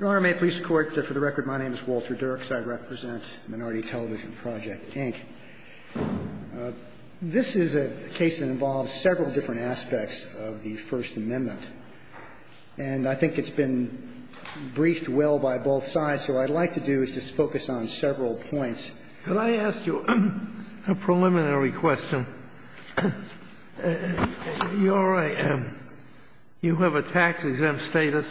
Your Honor, may it please the Court, for the record, my name is Walter Dirks. I represent Minority Television Project, Inc. This is a case that involves several different aspects of the First Amendment. And I think it's been briefed well by both sides, so what I'd like to do is just focus on several points. Can I ask you a preliminary question? Your Honor, you have a tax-exempt status.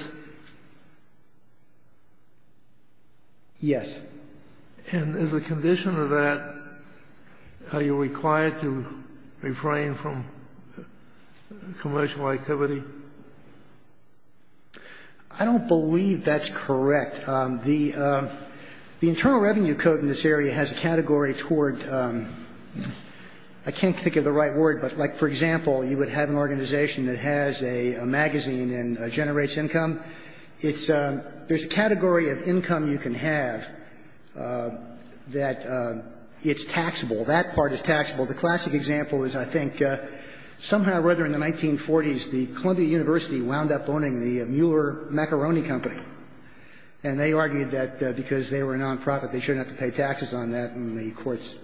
Yes. And as a condition of that, are you required to refrain from commercial activity? I don't believe that's correct. I think that the Internal Revenue Code in this area has a category toward, I can't think of the right word, but like, for example, you would have an organization that has a magazine and generates income. There's a category of income you can have that it's taxable. That part is taxable. The classic example is, I think, somehow or other in the 1940s, the Columbia University wound up owning the Mueller Macaroni Company, and they argued that because they were a nonprofit, they shouldn't have to pay taxes on that, and the courts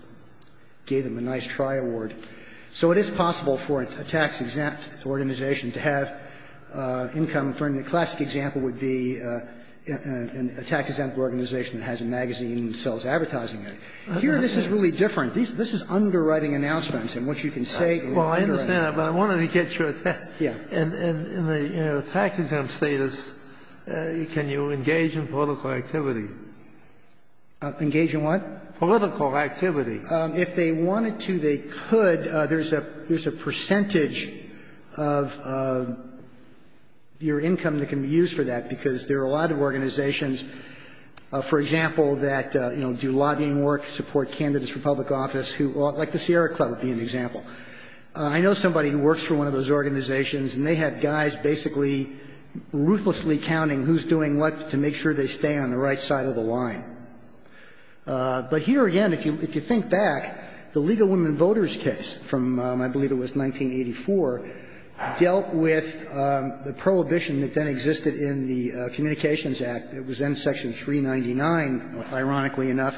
gave them a nice try award. So it is possible for a tax-exempt organization to have income. A classic example would be a tax-exempt organization that has a magazine and sells advertising there. Here, this is really different. This is underwriting announcements. And what you can say is underwriting announcements. But I wanted to get your attack. And in the tax-exempt status, can you engage in political activity? Engage in what? Political activity. If they wanted to, they could. There's a percentage of your income that can be used for that, because there are a lot of organizations, for example, that, you know, do lobbying work, support candidates for public office, like the Sierra Club would be an example. I know somebody who works for one of those organizations, and they have guys basically ruthlessly counting who's doing what to make sure they stay on the right side of the line. But here again, if you think back, the Legal Women Voters case from, I believe it was 1984, dealt with the prohibition that then existed in the Communications Act. It was then Section 399, ironically enough,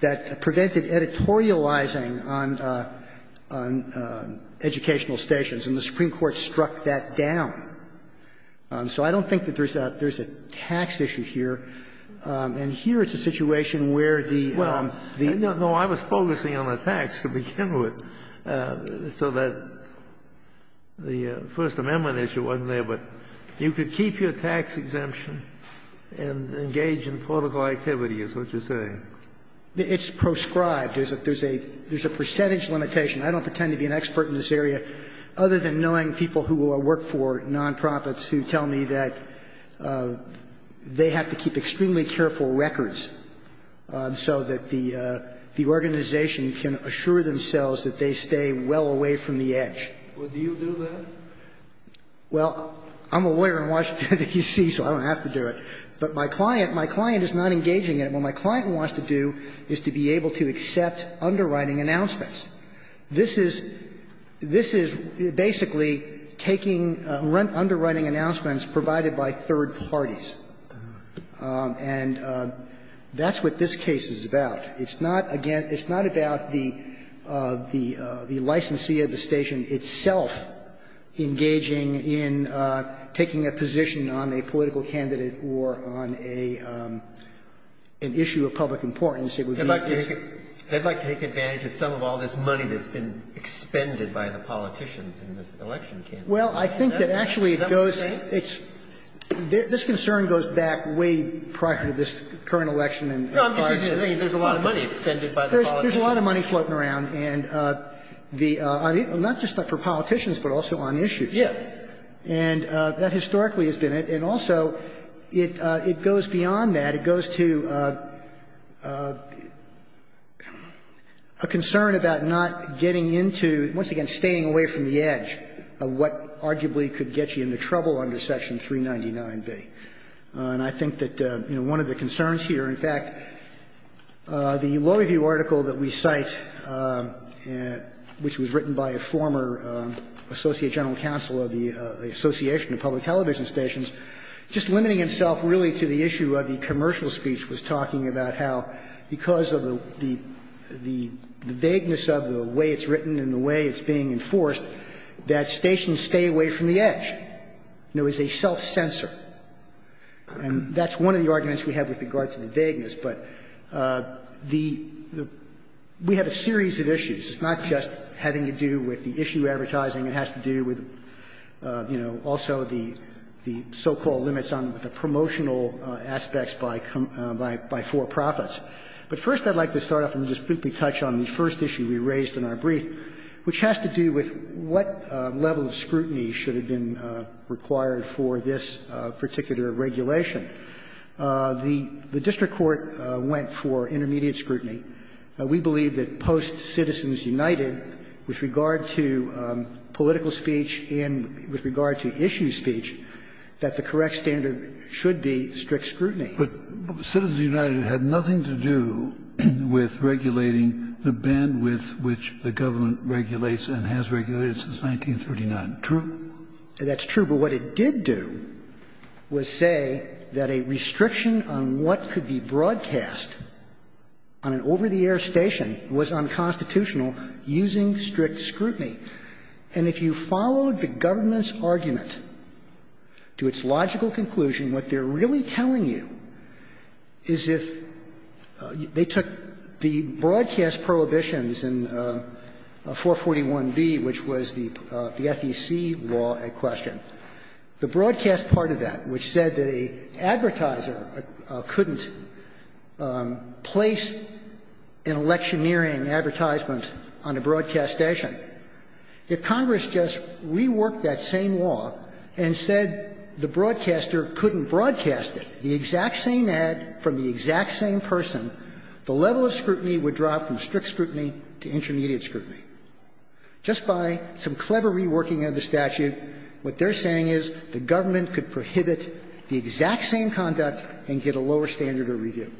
that prevented editorializing on educational stations, and the Supreme Court struck that down. So I don't think that there's a tax issue here. And here it's a situation where the the the No, I was focusing on the tax to begin with, so that the First Amendment issue wasn't there. But you could keep your tax exemption and engage in political activity is what you're saying. It's proscribed. There's a percentage limitation. I don't pretend to be an expert in this area, other than knowing people who work for nonprofits who tell me that they have to keep extremely careful records so that the organization can assure themselves that they stay well away from the edge. Well, do you do that? Well, I'm a lawyer in Washington, D.C., so I don't have to do it. But my client, my client is not engaging in it. What my client wants to do is to be able to accept underwriting announcements. This is this is basically taking underwriting announcements provided by third parties. And that's what this case is about. It's not, again, it's not about the the the licensee of the station itself engaging in taking a position on a political candidate or on a an issue of public importance. It would be. They'd like to take advantage of some of all this money that's been expended by the politicians in this election campaign. Well, I think that actually it goes. Is that what you're saying? It's this concern goes back way prior to this current election. No, I'm just saying there's a lot of money expended by the politicians. There's a lot of money floating around, and the not just for politicians, but also on issues. Yeah. And that historically has been it. And also, it it goes beyond that. It goes to a concern about not getting into, once again, staying away from the edge of what arguably could get you into trouble under Section 399B. And I think that, you know, one of the concerns here, in fact, the lower view article that we cite, which was written by a former associate general counsel of the Association of Public Television Stations, just limiting himself really to the issue of the commercial speech was talking about how because of the vagueness of the way it's written and the way it's being enforced, that stations stay away from the edge. You know, it's a self-censor. And that's one of the arguments we have with regard to the vagueness. But the we have a series of issues. It's not just having to do with the issue advertising. It has to do with, you know, also the so-called limits on the promotional aspects by for-profits. But first, I'd like to start off and just briefly touch on the first issue we raised in our brief, which has to do with what level of scrutiny should have been required for this particular regulation. The district court went for intermediate scrutiny. We believe that post-Citizens United, with regard to political speech and with regard to issue speech, that the correct standard should be strict scrutiny. Kennedy. But Citizens United had nothing to do with regulating the bandwidth which the government regulates and has regulated since 1939. True? That's true. But what it did do was say that a restriction on what could be broadcast on an over-the-air station was unconstitutional using strict scrutiny. And if you followed the government's argument to its logical conclusion, what they're really telling you is if they took the broadcast prohibitions in 441B, which was the broadcast part of that, which said that an advertiser couldn't place an electioneering advertisement on a broadcast station, if Congress just reworked that same law and said the broadcaster couldn't broadcast it, the exact same ad from the exact same person, the level of scrutiny would drop from strict scrutiny to intermediate scrutiny. Just by some clever reworking of the statute, what they're saying is the government could prohibit the exact same conduct and get a lower standard of review.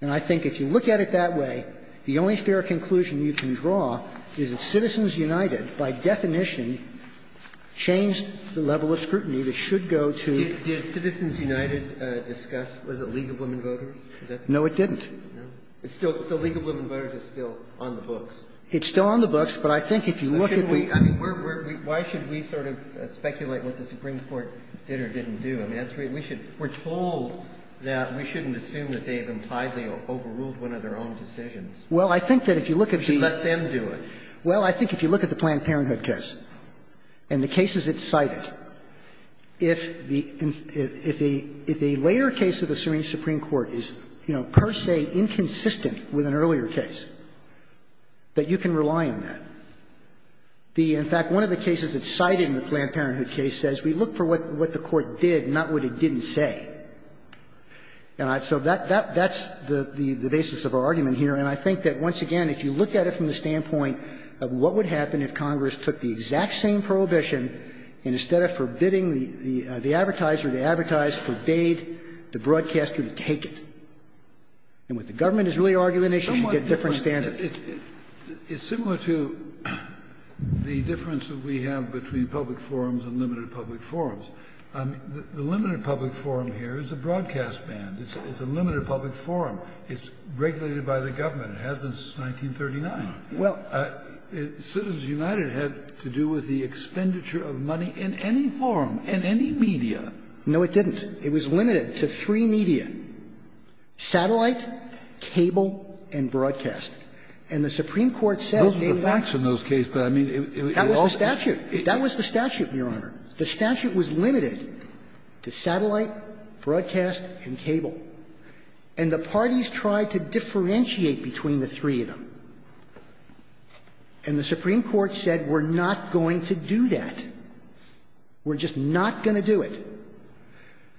And I think if you look at it that way, the only fair conclusion you can draw is that Citizens United, by definition, changed the level of scrutiny that should go to the broadcaster. Did Citizens United discuss, was it League of Women Voters? No, it didn't. So League of Women Voters is still on the books. It's still on the books. But I think if you look at the ---- I mean, why should we sort of speculate what the Supreme Court did or didn't do? I mean, that's really we should we're told that we shouldn't assume that they've impliedly overruled one of their own decisions. Well, I think that if you look at the ---- We should let them do it. Well, I think if you look at the Planned Parenthood case and the cases it cited, if the later case of the Supreme Court is, you know, per se inconsistent with an earlier case, that you can rely on that. The ---- In fact, one of the cases that's cited in the Planned Parenthood case says we look for what the Court did, not what it didn't say. And so that's the basis of our argument here. And I think that, once again, if you look at it from the standpoint of what would happen if Congress took the exact same prohibition and instead of forbidding the advertiser, the advertiser forbade the broadcaster to take it. And what the government is really arguing is you should get different standards. It's similar to the difference that we have between public forums and limited public forums. The limited public forum here is a broadcast band. It's a limited public forum. It's regulated by the government. It hasn't since 1939. Well, it's the United had to do with the expenditure of money in any forum, in any media. No, it didn't. It was limited to three media. Satellite, cable, and broadcast. And the Supreme Court said they were not going to do that. Kennedy. Those were facts in those cases, but I mean, it was all statute. That was the statute, Your Honor. The statute was limited to satellite, broadcast, and cable. And the parties tried to differentiate between the three of them. And the Supreme Court said we're not going to do that. We're just not going to do it.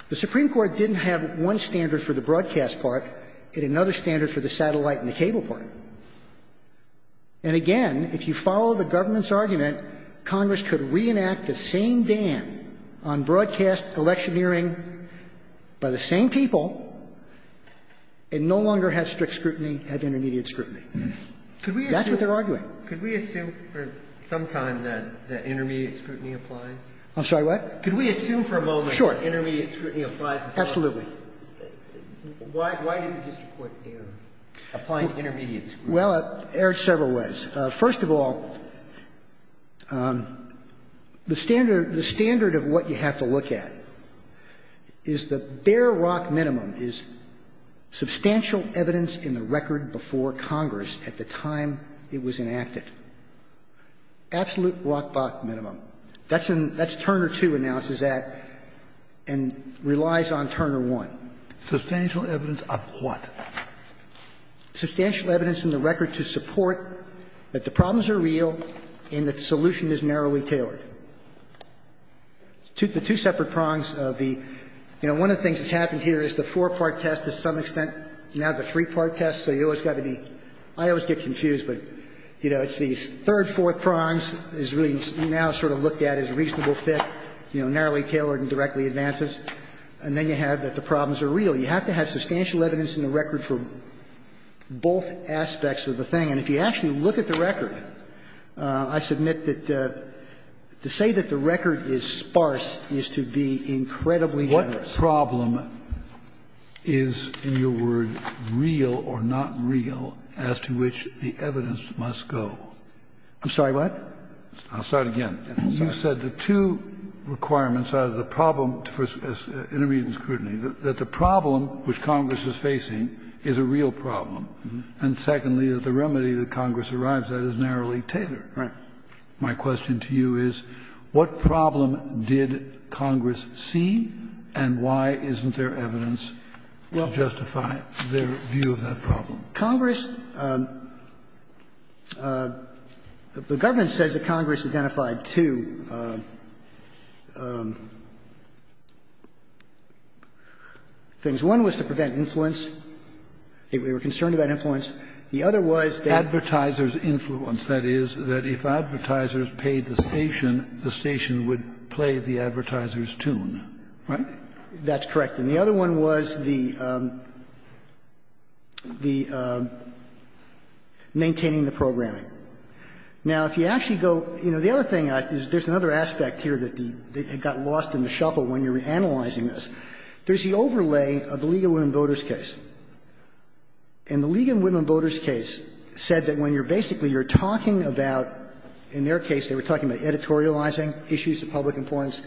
The Supreme Court didn't have one standard for the broadcast part and another standard for the satellite and the cable part. And again, if you follow the government's argument, Congress could reenact the same ban on broadcast electioneering by the same people and no longer have strict scrutiny, have intermediate scrutiny. That's what they're arguing. Could we assume for some time that intermediate scrutiny applies? I'm sorry, what? Could we assume for a moment that intermediate scrutiny applies? Absolutely. Why didn't the district court err, applying intermediate scrutiny? Well, it erred several ways. First of all, the standard of what you have to look at is the bare rock minimum is substantial evidence in the record before Congress at the time it was enacted. Absolute rock bottom minimum. That's what Turner 2 announces at and relies on Turner 1. Substantial evidence of what? Substantial evidence in the record to support that the problems are real and that the solution is narrowly tailored. The two separate prongs of the – you know, one of the things that's happened here is the four-part test to some extent, now the three-part test, so you always got to be – I always get confused, but, you know, it's these third, fourth prongs is really now sort of looked at as reasonable fit, you know, narrowly tailored and directly advances. And then you have that the problems are real. You have to have substantial evidence in the record for both aspects of the thing. And if you actually look at the record, I submit that to say that the record is sparse is to be incredibly generous. What problem is, in your word, real or not real as to which the evidence must go? I'm sorry, what? I'll start again. You said the two requirements out of the problem for intermediate scrutiny, that the problem which Congress is facing is a real problem. And secondly, that the remedy that Congress arrives at is narrowly tailored. My question to you is, what problem did Congress see and why isn't there evidence to justify their view of that problem? Congress – the government says that Congress identified two things. One was to prevent influence. They were concerned about influence. The other was that the advertisers' influence, that is, that if advertisers paid the station, the station would play the advertiser's tune, right? That's correct. And the other one was the – the maintaining the programming. Now, if you actually go – you know, the other thing, there's another aspect here that the – that got lost in the shuffle when you were analyzing this. There's the overlay of the League of Women Voters case. And the League of Women Voters case said that when you're basically, you're talking about – in their case, they were talking about editorializing issues of public importance,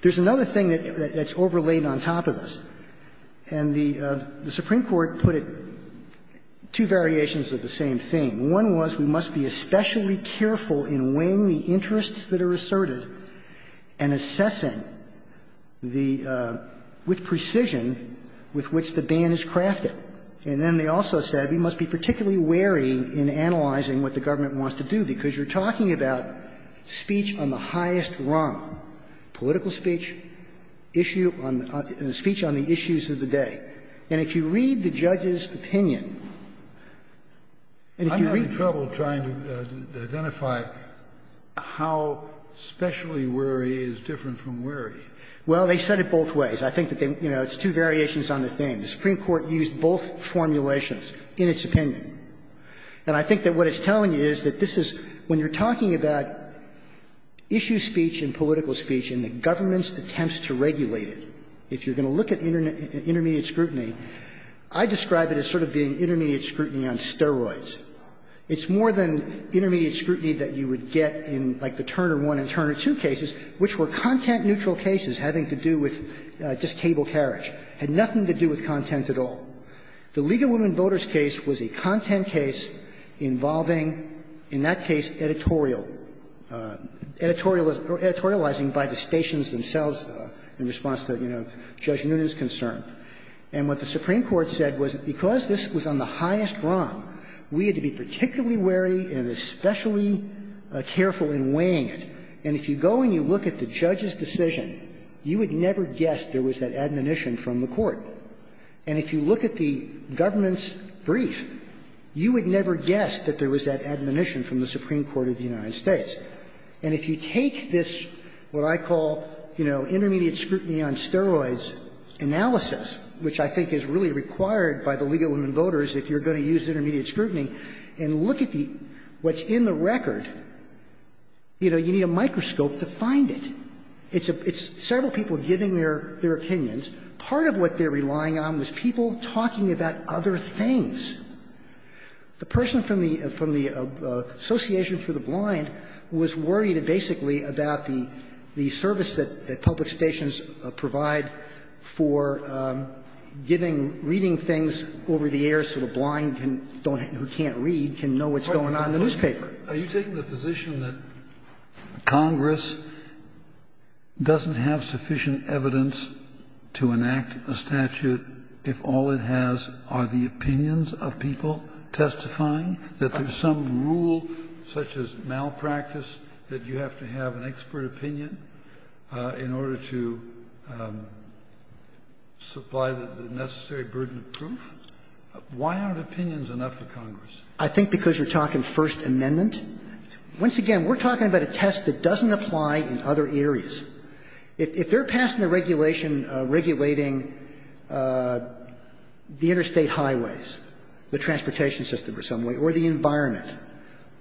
there's another thing that's overlaid on top of this. And the Supreme Court put it – two variations of the same thing. One was, we must be especially careful in weighing the interests that are asserted and assessing the – with precision with which the ban is crafted. And then they also said we must be particularly wary in analyzing what the government wants to do, because you're talking about speech on the highest rung, political speech, issue on – speech on the issues of the day. And if you read the judge's opinion, and if you read the – I'm having trouble trying to identify how especially wary is different from wary. Well, they said it both ways. I think that they – you know, it's two variations on the same. The Supreme Court used both formulations in its opinion. And I think that what it's telling you is that this is – when you're talking about issue speech and political speech and the government's attempts to regulate it, if you're going to look at intermediate scrutiny, I describe it as sort of being intermediate scrutiny on steroids. It's more than intermediate scrutiny that you would get in, like, the Turner 1 and Turner 2 cases, which were content-neutral cases having to do with just cable carriage, had nothing to do with content at all. The League of Women Voters case was a content case involving, in that case, editorial – editorializing by the stations themselves in response to, you know, Judge Noonan's concern. And what the Supreme Court said was that because this was on the highest rung, we had to be particularly wary and especially careful in weighing it. And if you go and you look at the judge's decision, you would never guess there was that admonition from the court. And if you look at the government's brief, you would never guess that there was that admonition from the Supreme Court of the United States. And if you take this, what I call, you know, intermediate scrutiny on steroids analysis, which I think is really required by the League of Women Voters if you're going to use intermediate scrutiny, and look at the – what's in the record, you know, you need a microscope to find it. It's several people giving their opinions. Part of what they're relying on was people talking about other things. The person from the Association for the Blind was worried, basically, about the service that public stations provide for giving – reading things over the air so the blind who can't read can know what's going on in the newspaper. Kennedy, are you taking the position that Congress doesn't have sufficient evidence to enact a statute if all it has are the opinions of people testifying, that there's some rule, such as malpractice, that you have to have an expert opinion in order to supply the necessary burden of proof? Why aren't opinions enough for Congress? I think because you're talking First Amendment. Once again, we're talking about a test that doesn't apply in other areas. If they're passing a regulation regulating the interstate highways, the transportation system in some way, or the environment,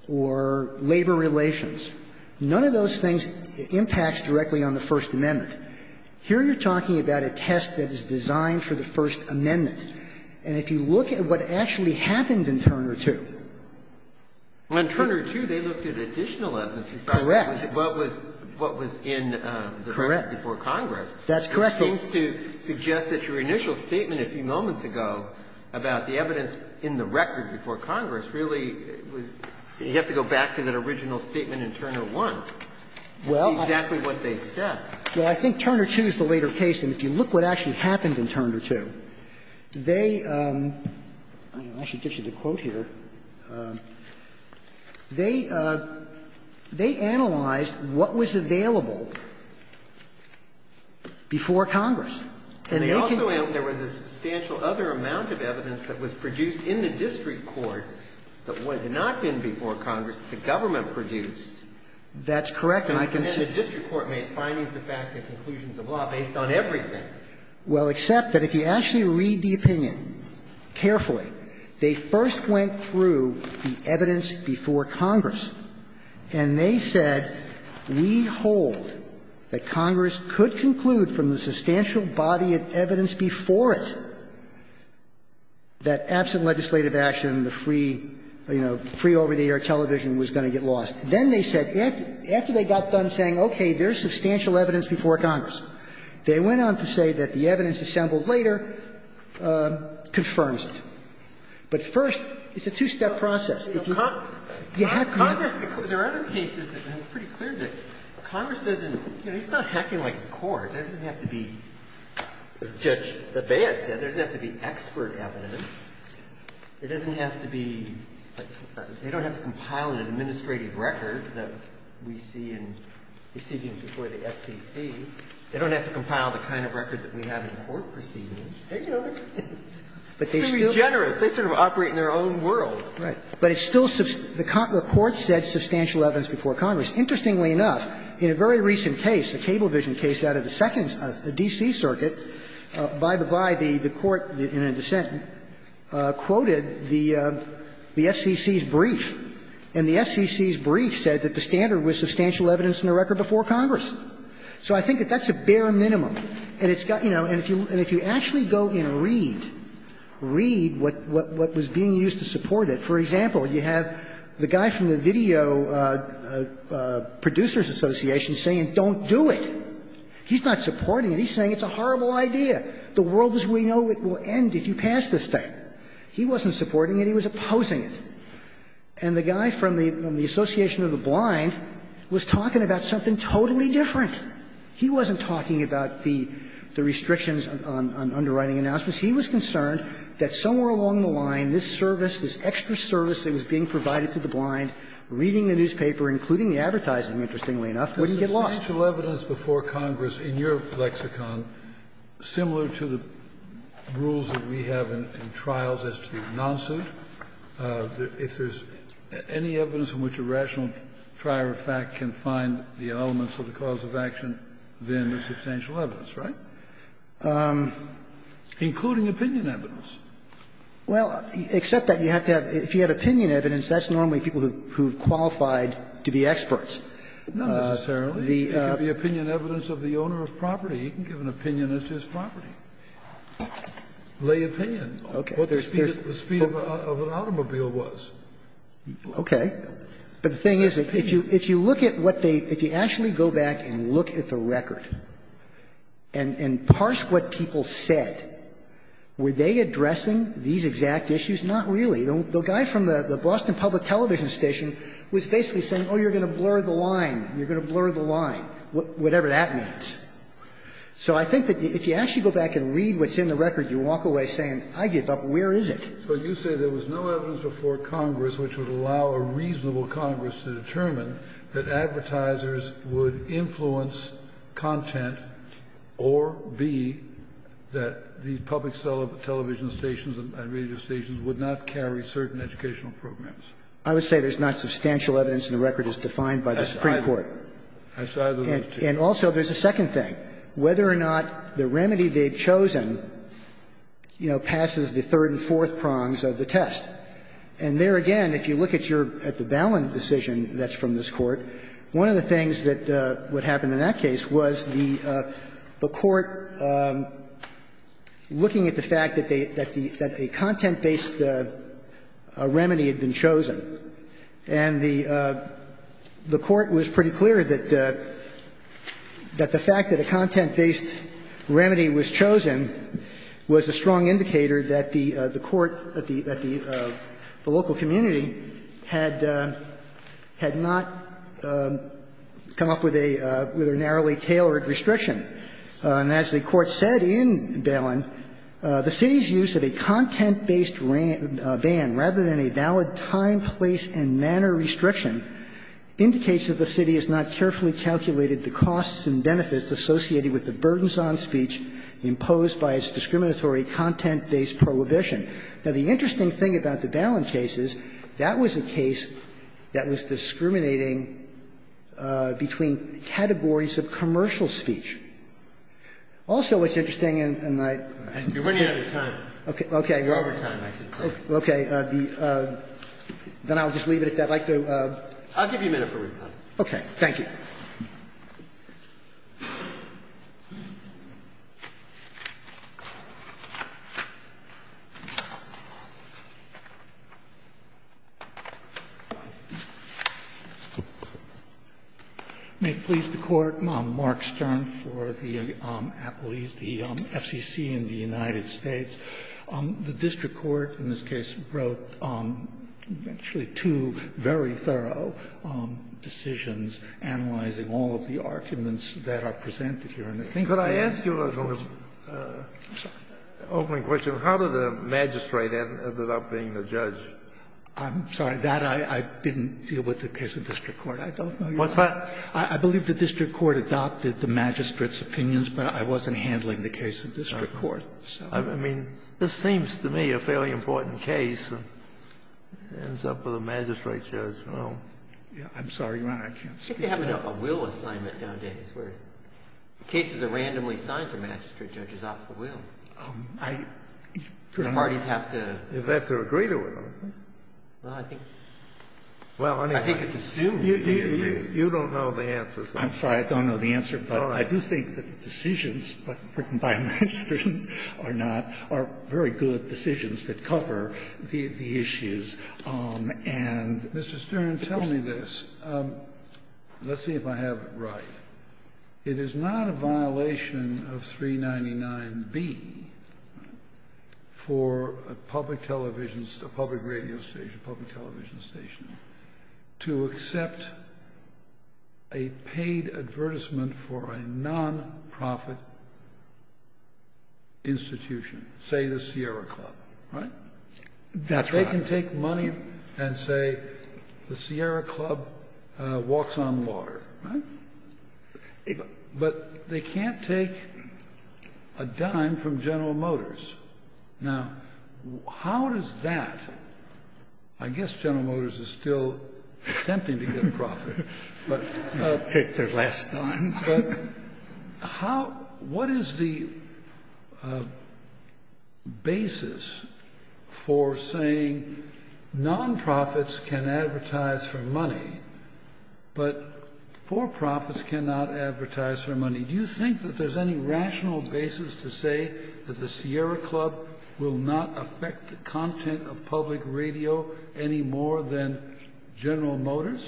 or labor relations, none of those things impacts directly on the First Amendment. Here you're talking about a test that is designed for the First Amendment. And if you look at what actually happened in Turner II. Well, in Turner II, they looked at additional evidence to decide what was in the record before Congress. That's correct, Your Honor. That seems to suggest that your initial statement a few moments ago about the evidence in the record before Congress really was you have to go back to that original statement in Turner I. Well, I think Turner II is the later case. And if you look what actually happened in Turner II, they – I don't know if I should get you the quote here. They analyzed what was available before Congress. And they also analyzed there was a substantial other amount of evidence that was produced in the district court that was not in before Congress, the government produced. That's correct. And I can say the district court made findings of fact and conclusions of law based on everything. Well, except that if you actually read the opinion carefully, they first went through the evidence before Congress. And they said, we hold that Congress could conclude from the substantial body of evidence before it that absent legislative action, the free, you know, free over-the-air television was going to get lost. Then they said, after they got done saying, okay, there's substantial evidence before Congress, they went on to say that the evidence assembled later confirms it. But first, it's a two-step process. If you have to – Congress, there are other cases that it's pretty clear that Congress doesn't – you know, it's not hacking like a court. It doesn't have to be, as Judge LaBea said, it doesn't have to be expert evidence. It doesn't have to be – they don't have to compile an administrative record that we see in proceedings before the FCC. They don't have to compile the kind of record that we have in court proceedings. They can do it. It's too generous. They sort of operate in their own world. Right. But it's still – the court said substantial evidence before Congress. Interestingly enough, in a very recent case, a cable vision case out of the second – the D.C. Circuit, by the by, the court in a dissent quoted the FCC's brief, and the FCC's brief said that the standard was substantial evidence in the record before Congress. So I think that that's a bare minimum. And it's got – you know, and if you actually go and read, read what was being used to support it. For example, you have the guy from the Video Producers Association saying don't do it. He's not supporting it. He's saying it's a horrible idea. The world as we know it will end if you pass this thing. He wasn't supporting it. He was opposing it. And the guy from the Association of the Blind was talking about something totally different. He wasn't talking about the restrictions on underwriting announcements. He was concerned that somewhere along the line, this service, this extra service that was being provided to the blind, reading the newspaper, including the advertising, interestingly enough, wouldn't get lost. Kennedy, in your lexicon, similar to the rules that we have in trials as to the non-suit, if there's any evidence in which a rational trier of fact can find the elements of the cause of action, then there's substantial evidence, right? Including opinion evidence. Well, except that you have to have – if you have opinion evidence, that's normally people who have qualified to be experts. Not necessarily. It could be opinion evidence of the owner of property. He can give an opinion as to his property. Lay opinion. Okay. But the speed of an automobile was. Okay. But the thing is, if you look at what they – if you actually go back and look at the record and parse what people said, were they addressing these exact issues? Not really. The guy from the Boston Public Television Station was basically saying, oh, you're going to blur the line, you're going to blur the line, whatever that means. So I think that if you actually go back and read what's in the record, you walk away saying, I give up, where is it? So you say there was no evidence before Congress which would allow a reasonable Congress to determine that advertisers would influence content or B, that these public television stations and radio stations would not carry certain educational programs. I would say there's not substantial evidence in the record as defined by the Supreme Court. I said I don't know, too. And also there's a second thing. Whether or not the remedy they've chosen, you know, passes the third and fourth prongs of the test. And there again, if you look at your – at the Ballin decision that's from this Court, one of the things that would happen in that case was the Court looking at the fact that they – that the – that a content-based remedy had been chosen. And the Court was pretty clear that the fact that a content-based remedy had been chosen was a strong indicator that the – the Court at the – at the local community had – had not come up with a – with a narrowly tailored restriction. And as the Court said in Ballin, the city's use of a content-based ban rather than a valid time, place and manner restriction indicates that the city has not carefully calculated the costs and benefits associated with the burdens on speech imposed by its discriminatory content-based prohibition. Now, the interesting thing about the Ballin case is that was a case that was discriminating between categories of commercial speech. Also, what's interesting, and I – Breyer, you're running out of time. Okay. You're over time, I think. Okay. Then I'll just leave it at that. I'd like to – I'll give you a minute for rebuttal. Okay. Thank you. May it please the Court, Mark Stern for the appellees, the FCC in the United States. The district court in this case wrote actually two very thorough decisions analyzing all of the arguments that are presented here. And I think that the court's – Could I ask you a little opening question? How did the magistrate end up being the judge? I'm sorry. That I didn't deal with the case of district court. I don't know your answer. What's that? I believe the district court adopted the magistrate's opinions, but I wasn't handling the case of district court. I mean, this seems to me a fairly important case, and it ends up with a magistrate judge. I'm sorry, Your Honor, I can't speak to that. I think they have a will assignment nowadays where cases are randomly signed for magistrate judges off the will. The parties have to – They have to agree to it, don't they? Well, I think it's assumed. You don't know the answers. I'm sorry. I don't know the answer, but I do think that the decisions written by a magistrate judge are not – are very good decisions that cover the issues, and the question is the same. Mr. Stern, tell me this. Let's see if I have it right. It is not a violation of 399B for a public television – a public radio station, a public television station to accept a paid advertisement for a non-profit institution, say the Sierra Club, right? That's right. They can take money and say the Sierra Club walks on water, right? But they can't take a dime from General Motors. Now, how does that – I guess General Motors is still attempting to get a profit, but – Their last dime. But how – what is the basis for saying non-profits can advertise for money, but for-profits cannot advertise for money? Do you think that there's any rational basis to say that the Sierra Club will not affect the content of public radio any more than General Motors?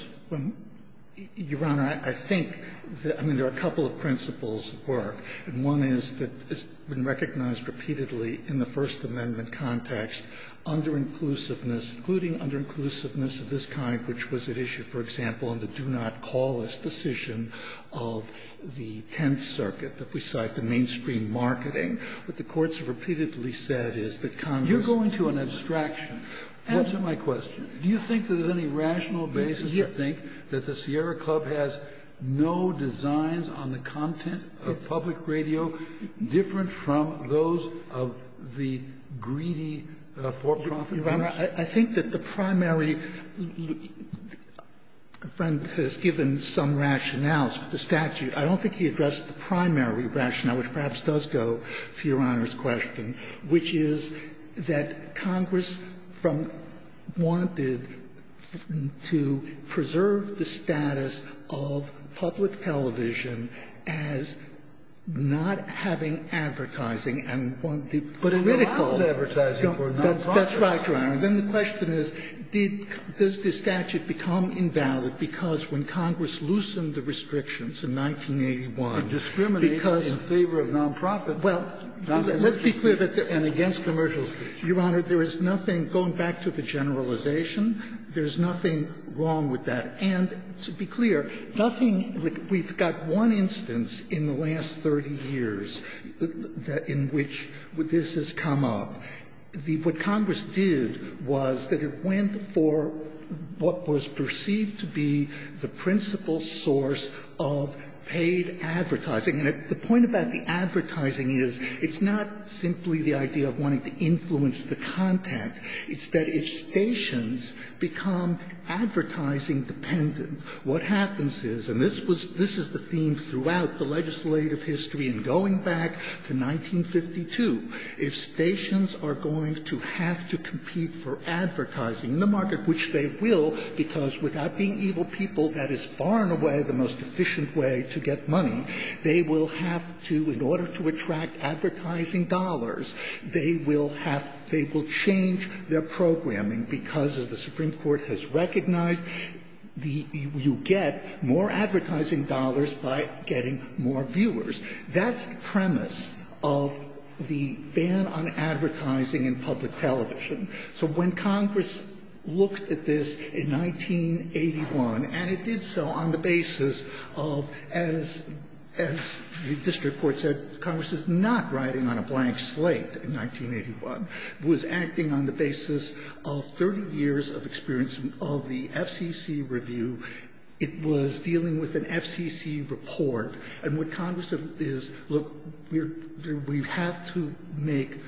Your Honor, I think – I mean, there are a couple of principles at work, and one is that it's been recognized repeatedly in the First Amendment context under-inclusiveness, including under-inclusiveness of this kind, which was at issue, for example, in the do-not-call-us decision of the Tenth Circuit that we cite, the mainstream marketing. What the courts have repeatedly said is that Congress – You're going to an abstraction. Answer my question. Do you think that there's any rational basis? Do you think that the Sierra Club has no designs on the content of public radio different from those of the greedy for-profit? Your Honor, I think that the primary – a friend has given some rationales to the statute. I don't think he addressed the primary rationale, which perhaps does go to Your Honor's question, which is that Congress from – wanted to preserve the status of public television as not having advertising and wanted the political – But it allows advertising for non-profit. That's right, Your Honor. Then the question is, did – does the statute become invalid because when Congress loosened the restrictions in 1981, because – It discriminates in favor of non-profit. Well, let's be clear that – and against commercials. Your Honor, there is nothing – going back to the generalization, there is nothing wrong with that. And to be clear, nothing – we've got one instance in the last 30 years in which this has come up. The – what Congress did was that it went for what was perceived to be the principal source of paid advertising. And the point about the advertising is it's not simply the idea of wanting to influence the content. It's that if stations become advertising-dependent, what happens is – and this was – this is the theme throughout the legislative history and going back to 1952 – if stations are going to have to compete for advertising in the market, which they will, because without being evil people, that is far and away the most efficient way to get money, they will have to, in order to attract advertising dollars, they will have – they will change their programming because the Supreme Court has recognized the – you get more advertising dollars by getting more viewers. That's the premise of the ban on advertising in public television. So when Congress looked at this in 1981, and it did so on the basis of the fact that as the district court said, Congress is not riding on a blank slate in 1981. It was acting on the basis of 30 years of experience of the FCC review. It was dealing with an FCC report. And what Congress is – look, we have to make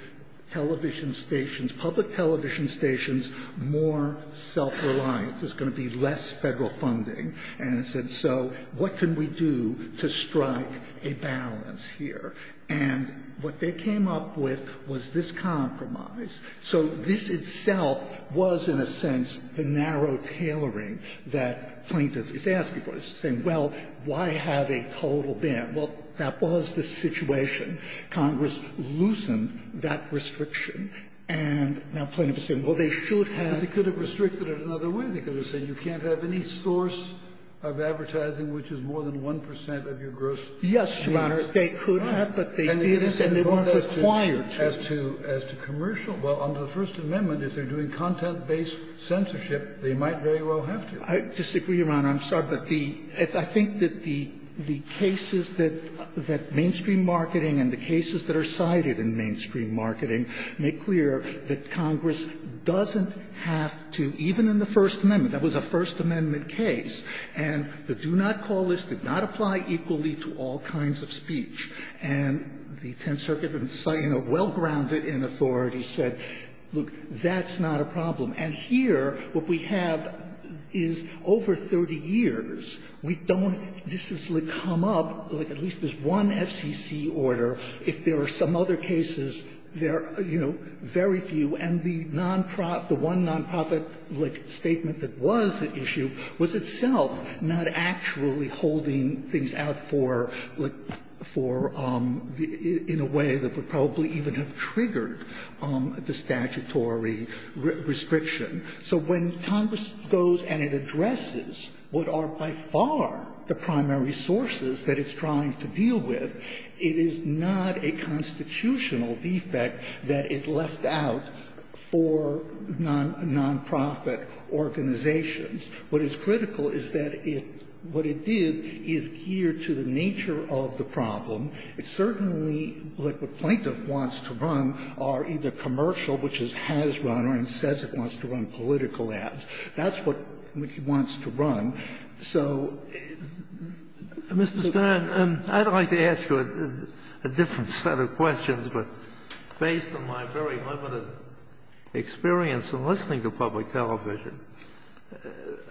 television stations, public television stations, more self-reliant. There's going to be less Federal funding. And it said, so what can we do to strike a balance here? And what they came up with was this compromise. So this itself was, in a sense, the narrow tailoring that plaintiffs is asking for, saying, well, why have a total ban? Well, that was the situation. Congress loosened that restriction. And now plaintiffs are saying, well, they should have. Scalia, They could have restricted it another way. They could have said, you can't have any source of advertising which is more than 1 percent of your gross net worth. Yes, Your Honor, they could have, but they didn't, and they weren't required to. And as to commercial, well, under the First Amendment, if they're doing content-based censorship, they might very well have to. I disagree, Your Honor. I'm sorry. But the – I think that the cases that mainstream marketing and the cases that are cited in mainstream marketing make clear that Congress doesn't have to, even in the First Amendment. That was a First Amendment case, and the do-not-call list did not apply equally to all kinds of speech. And the Tenth Circuit, well-grounded in authority, said, look, that's not a problem. And here, what we have is over 30 years, we don't – this has come up, like at least this one FCC order. If there are some other cases, there are, you know, very few, and the non-profit – the one non-profit, like, statement that was at issue was itself not actually holding things out for, like, for – in a way that would probably even have triggered the statutory restriction. So when Congress goes and it addresses what are by far the primary sources that it's trying to deal with, it is not a constitutional defect that it left out for the FCC or the non-profit organizations. What is critical is that it – what it did is gear to the nature of the problem. It certainly, like what Plaintiff wants to run, are either commercial, which it has run, or it says it wants to run political ads. That's what he wants to run. So it's a bit of a problem. Kennedy, I'd like to ask you a different set of questions, but based on my very limited experience in listening to public television,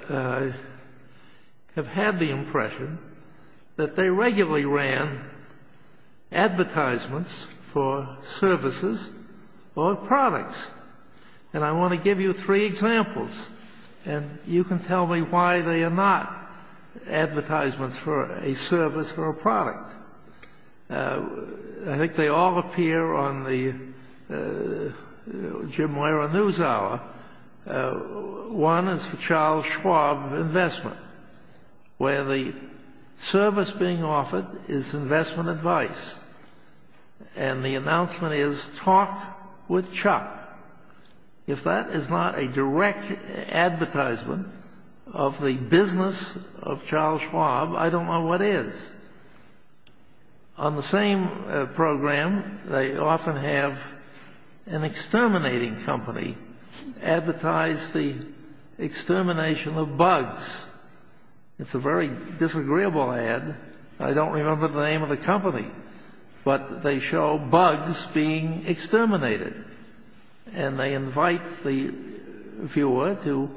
I have had the impression that they regularly ran advertisements for services or products. And I want to give you three examples, and you can tell me why they are not advertisements for a service or a product. I think they all appear on the Jim Wehrer News Hour. One is for Charles Schwab Investment, where the service being offered is investment advice, and the announcement is, talk with Chuck. If that is not a direct advertisement of the business of Charles Schwab, I don't know what is. On the same program, they often have an exterminating company advertise the extermination of bugs. It's a very disagreeable ad. I don't remember the name of the company, but they show bugs being exterminated, and they invite the viewer to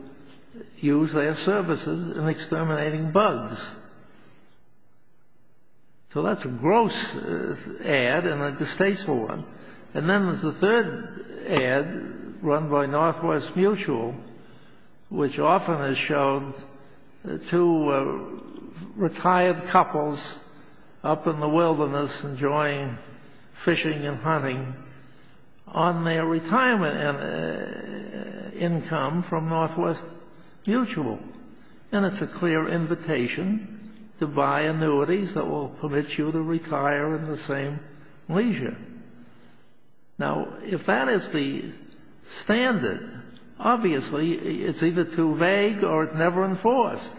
use their services in exterminating bugs. So that's a gross ad and a distasteful one. And then there's a third ad run by Northwest Mutual, which often has shown two retired couples up in the wilderness enjoying fishing and hunting on their retirement income from Northwest Mutual, and it's a clear invitation to buy annuities that will permit you to retire in the same leisure. Now, if that is the standard, obviously, it's either too vague or it's never enforced.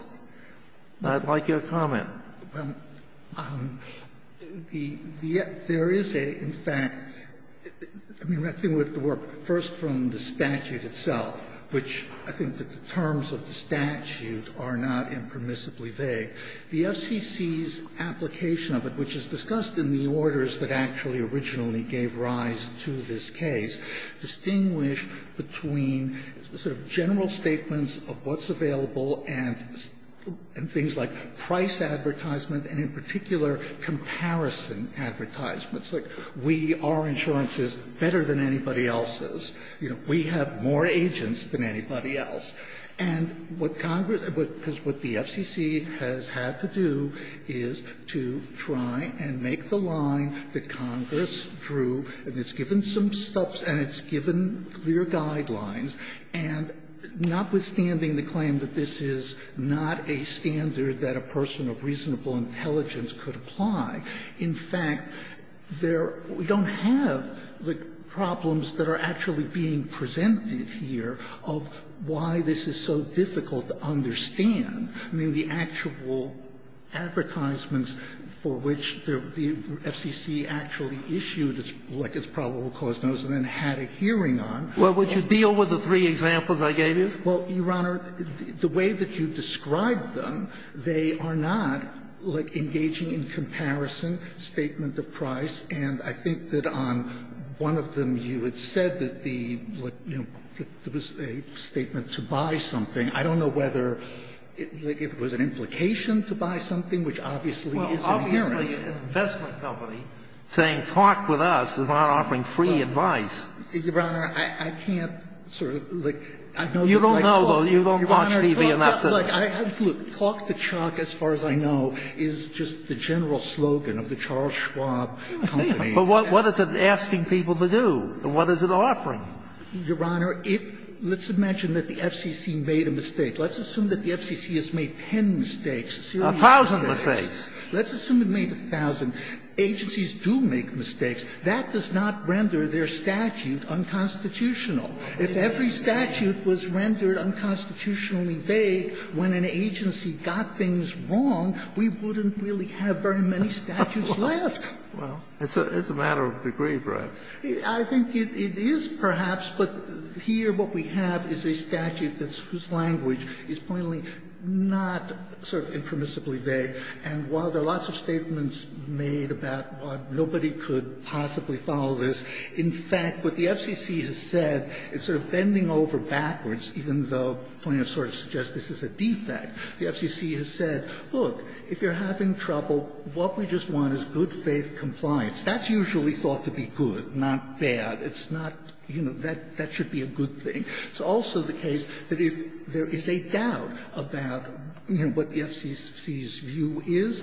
I'd like your comment. There is a, in fact, I mean, I think we have to work first from the statute itself, which I think that the terms of the statute are not impermissibly vague. The FCC's application of it, which is discussed in the orders that actually originally gave rise to this case, distinguished between sort of general statements of what's available and things like price advertisement and, in particular, comparison advertisements. Like, we are insurances better than anybody else is. You know, we have more agents than anybody else. And what Congress, because what the FCC has had to do is to try and make the line that Congress drew, and it's given some steps and it's given clear guidelines, and notwithstanding the claim that this is not a standard that a person of reasonable intelligence could apply, in fact, there, we don't have the problems that are actually being presented here of why this is so difficult to understand. I mean, the actual advertisements for which the FCC actually issued its probable cause notice and then had a hearing on. Well, would you deal with the three examples I gave you? Well, Your Honor, the way that you described them, they are not engaging in comparison, statement of price. And I think that on one of them, you had said that the, you know, there was a statement to buy something. I don't know whether, like, if it was an implication to buy something, which obviously is an hearing. Well, obviously an investment company saying talk with us is not offering free advice. Your Honor, I can't sort of, like, I know that I talk to Chuck. You don't know, though. You don't watch TV enough to know. Your Honor, look, talk to Chuck, as far as I know, is just the general slogan of the Charles Schwab Company. But what is it asking people to do? What is it offering? Your Honor, if let's imagine that the FCC made a mistake. Let's assume that the FCC has made ten mistakes. A thousand mistakes. Let's assume it made a thousand. Agencies do make mistakes. That does not render their statute unconstitutional. If every statute was rendered unconstitutionally vague when an agency got things wrong, we wouldn't really have very many statutes left. Well, it's a matter of degree, correct? I think it is, perhaps, but here what we have is a statute whose language is plainly not sort of impermissibly vague. And while there are lots of statements made about why nobody could possibly follow this, in fact, what the FCC has said is sort of bending over backwards, even though plaintiffs sort of suggest this is a defect. The FCC has said, look, if you're having trouble, what we just want is good-faith compliance. That's usually thought to be good, not bad. It's not, you know, that should be a good thing. It's also the case that if there is a doubt about, you know, what the FCC's view is,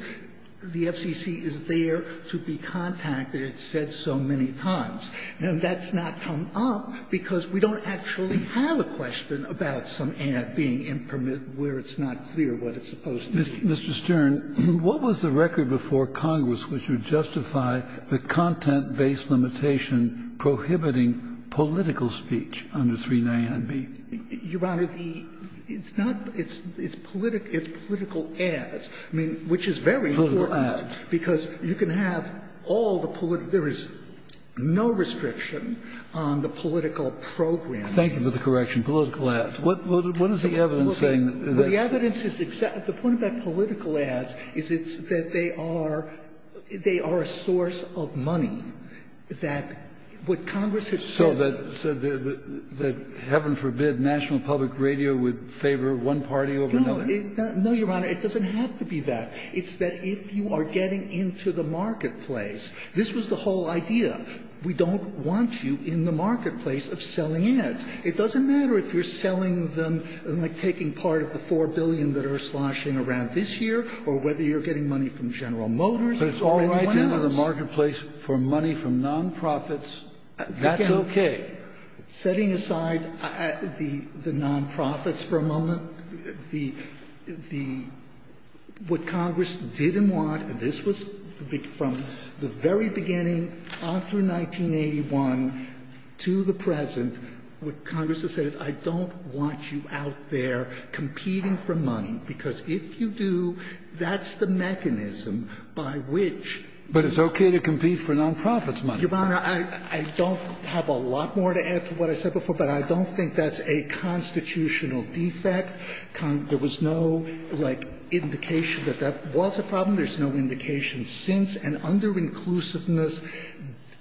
the FCC is there to be contacted. It's said so many times. And that's not come up because we don't actually have a question about some ad being impermissible, where it's not clear what it's supposed to be. Mr. Stern, what was the record before Congress which would justify the content-based limitation prohibiting political speech under 39B? Your Honor, the – it's not – it's political ads, I mean, which is very poor ads, because you can have all the political – there is no restriction on the political program. Thank you for the correction, political ads. What is the evidence saying? Well, the evidence is – the point about political ads is it's that they are – they are a source of money, that what Congress has said – So that – so that heaven forbid National Public Radio would favor one party over another? No, Your Honor, it doesn't have to be that. It's that if you are getting into the marketplace – this was the whole idea. We don't want you in the marketplace of selling ads. It doesn't matter if you're selling them, like, taking part of the $4 billion that are sloshing around this year, or whether you're getting money from General Motors or anyone else. But it's all right to enter the marketplace for money from non-profits. That's okay. Setting aside the non-profits for a moment, the – what Congress didn't want, this was from the very beginning, all through 1981 to the present, what Congress has said is I don't want you out there competing for money, because if you do, that's the mechanism by which – But it's okay to compete for non-profits' money. Your Honor, I don't have a lot more to add to what I said before, but I don't think that's a constitutional defect. There was no, like, indication that that was a problem. There's no indication since. And under-inclusiveness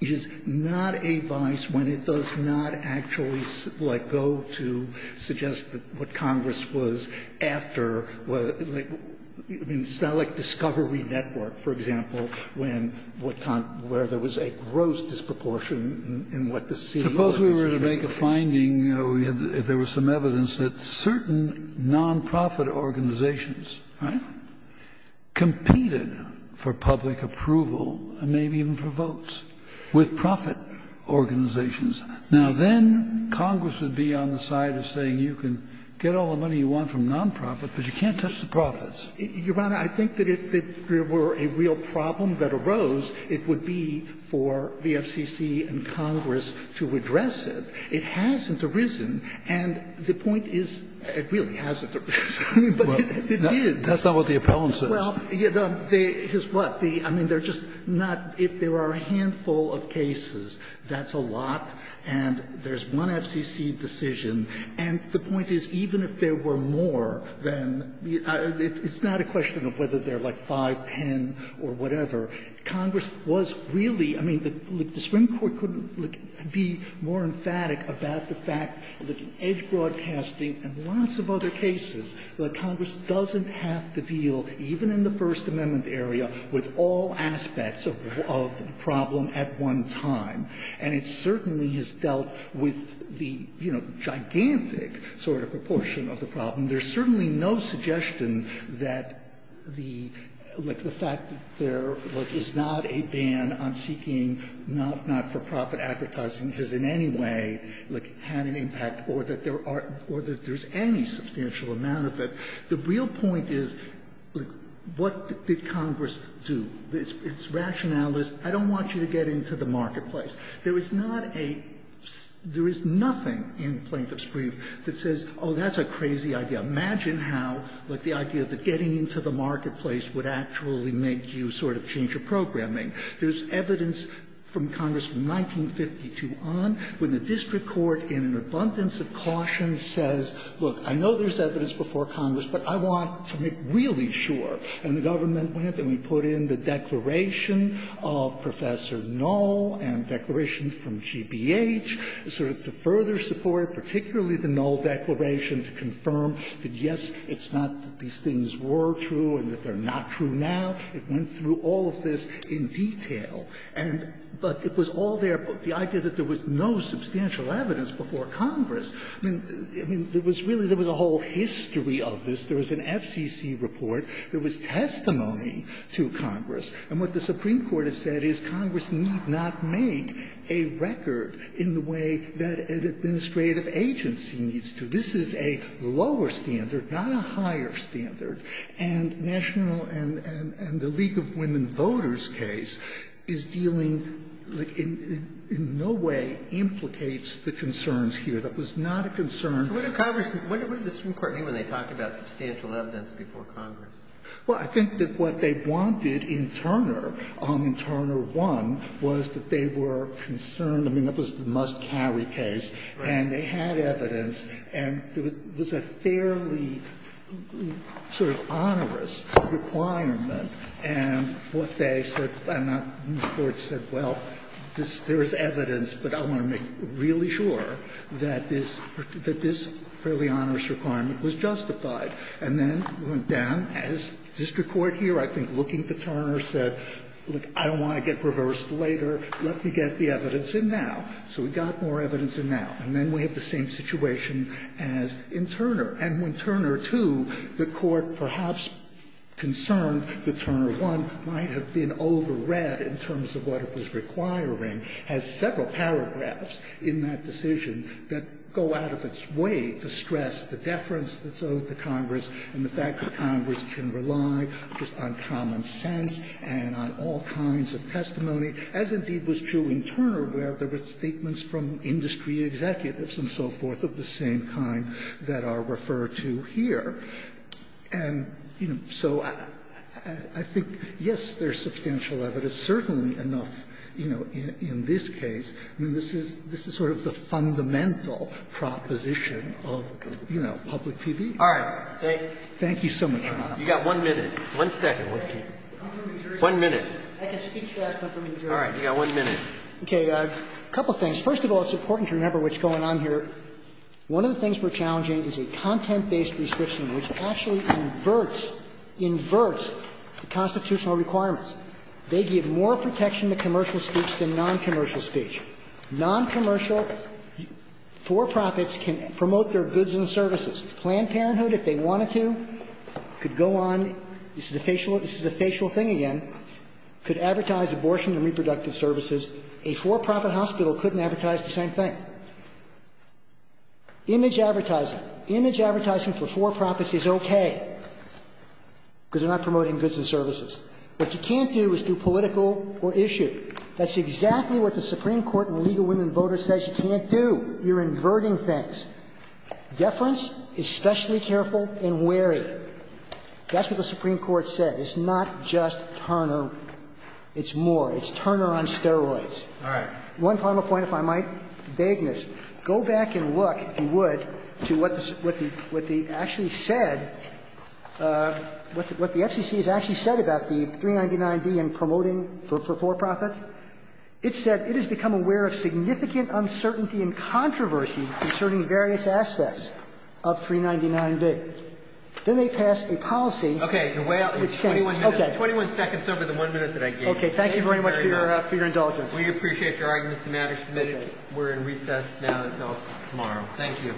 is not a vice when it does not actually, like, go to suggest what Congress was after, like – I mean, it's not like Discovery Network, for example, when what – where there was a gross disproportion in what the CEO was making. Suppose we were to make a finding, you know, if there was some evidence that certain non-profit organizations, right, competed for public approval and maybe even for votes with profit organizations. Now, then Congress would be on the side of saying you can get all the money you want from non-profit, but you can't touch the profits. Your Honor, I think that if there were a real problem that arose, it would be for the FCC and Congress to address it. It hasn't arisen, and the point is it really hasn't arisen, but it did. Roberts. That's not what the appellant says. Well, you know, here's what. I mean, they're just not – if there are a handful of cases, that's a lot, and there's one FCC decision, and the point is even if there were more than – it's not a question of whether they're, like, 5, 10 or whatever. Congress was really – I mean, the Supreme Court couldn't be more emphatic about the fact that in Edge Broadcasting and lots of other cases that Congress doesn't have to deal, even in the First Amendment area, with all aspects of the problem at one time, and it certainly has dealt with the, you know, gigantic sort of proportion of the problem. There's certainly no suggestion that the – like, the fact that there, like, is not a ban on seeking not-for-profit advertising has in any way, like, had an impact or that there are – or that there's any substantial amount of it. The real point is, like, what did Congress do? Its rationale is, I don't want you to get into the marketplace. There is not a – there is nothing in Plaintiff's brief that says, oh, that's a crazy idea. Imagine how, like, the idea of getting into the marketplace would actually make you sort of change your programming. There's evidence from Congress from 1952 on when the district court, in an abundance of caution, says, look, I know there's evidence before Congress, but I want to make really sure. And the government went and we put in the declaration of Professor Knoll and declarations from G.B.H. sort of to further support, particularly the Knoll declaration, to confirm that, yes, it's not that these things were true and that they're not true now. It went through all of this in detail. And – but it was all there, but the idea that there was no substantial evidence before Congress, I mean, there was really – there was a whole history of this. There was an FCC report. There was testimony to Congress. And what the Supreme Court has said is Congress need not make a record in the way that an administrative agency needs to. This is a lower standard, not a higher standard. And national – and the League of Women Voters case is dealing – in no way implicates the concerns here. That was not a concern. So what did Congress – what did the Supreme Court mean when they talked about substantial evidence before Congress? Well, I think that what they wanted in Turner, in Turner 1, was that they were concerned – I mean, that was the must-carry case. And they had evidence, and it was a fairly sort of onerous requirement. And what they said – and the Court said, well, there is evidence, but I want to make really sure that this – that this fairly onerous requirement was justified. And then it went down. As district court here, I think, looking to Turner, said, look, I don't want to get reversed later. Let me get the evidence in now. So we got more evidence in now. And then we have the same situation as in Turner. And when Turner 2, the Court perhaps concerned that Turner 1 might have been over-read in terms of what it was requiring, has several paragraphs in that decision that go out of its way to stress the deference that's owed to Congress and the fact that Congress can rely just on common sense and on all kinds of testimony, as indeed was true in Turner, where there were statements from industry executives and so forth of the same kind that are referred to here. And, you know, so I think, yes, there's substantial evidence, certainly enough, you know, in this case. I mean, this is – this is sort of the fundamental proposition of, you know, public TV. All right. Thank you. Thank you so much, Your Honor. You've got one minute, one second. One minute. I can speak to that, but from New Jersey. All right. You've got one minute. Okay. A couple of things. First of all, it's important to remember what's going on here. One of the things we're challenging is a content-based restriction which actually inverts – inverts the constitutional requirements. They give more protection to commercial speech than noncommercial speech. Noncommercial for-profits can promote their goods and services. Planned Parenthood, if they wanted to, could go on – this is a facial – this is a facial thing again – could advertise abortion and reproductive services. A for-profit hospital couldn't advertise the same thing. Image advertising. Image advertising for for-profits is okay because they're not promoting goods and services. What you can't do is do political or issue. That's exactly what the Supreme Court in Legal Women Voters says you can't do. You're inverting things. Deference is specially careful and wary. That's what the Supreme Court said. It's not just Turner. It's more. It's Turner on steroids. All right. One final point, if I might, vagueness. Go back and look, if you would, to what the – what the actually said – what the Supreme Court said in the case of 399B and promoting for for-profits, it said it has become aware of significant uncertainty and controversy concerning various aspects of 399B. Then they pass a policy that's changed. Okay. You're way out – it's 21 minutes – it's 21 seconds over the 1 minute that I gave. Okay. Thank you very much for your – for your indulgence. We appreciate your arguments and matters submitted. We're in recess now until tomorrow. Thank you.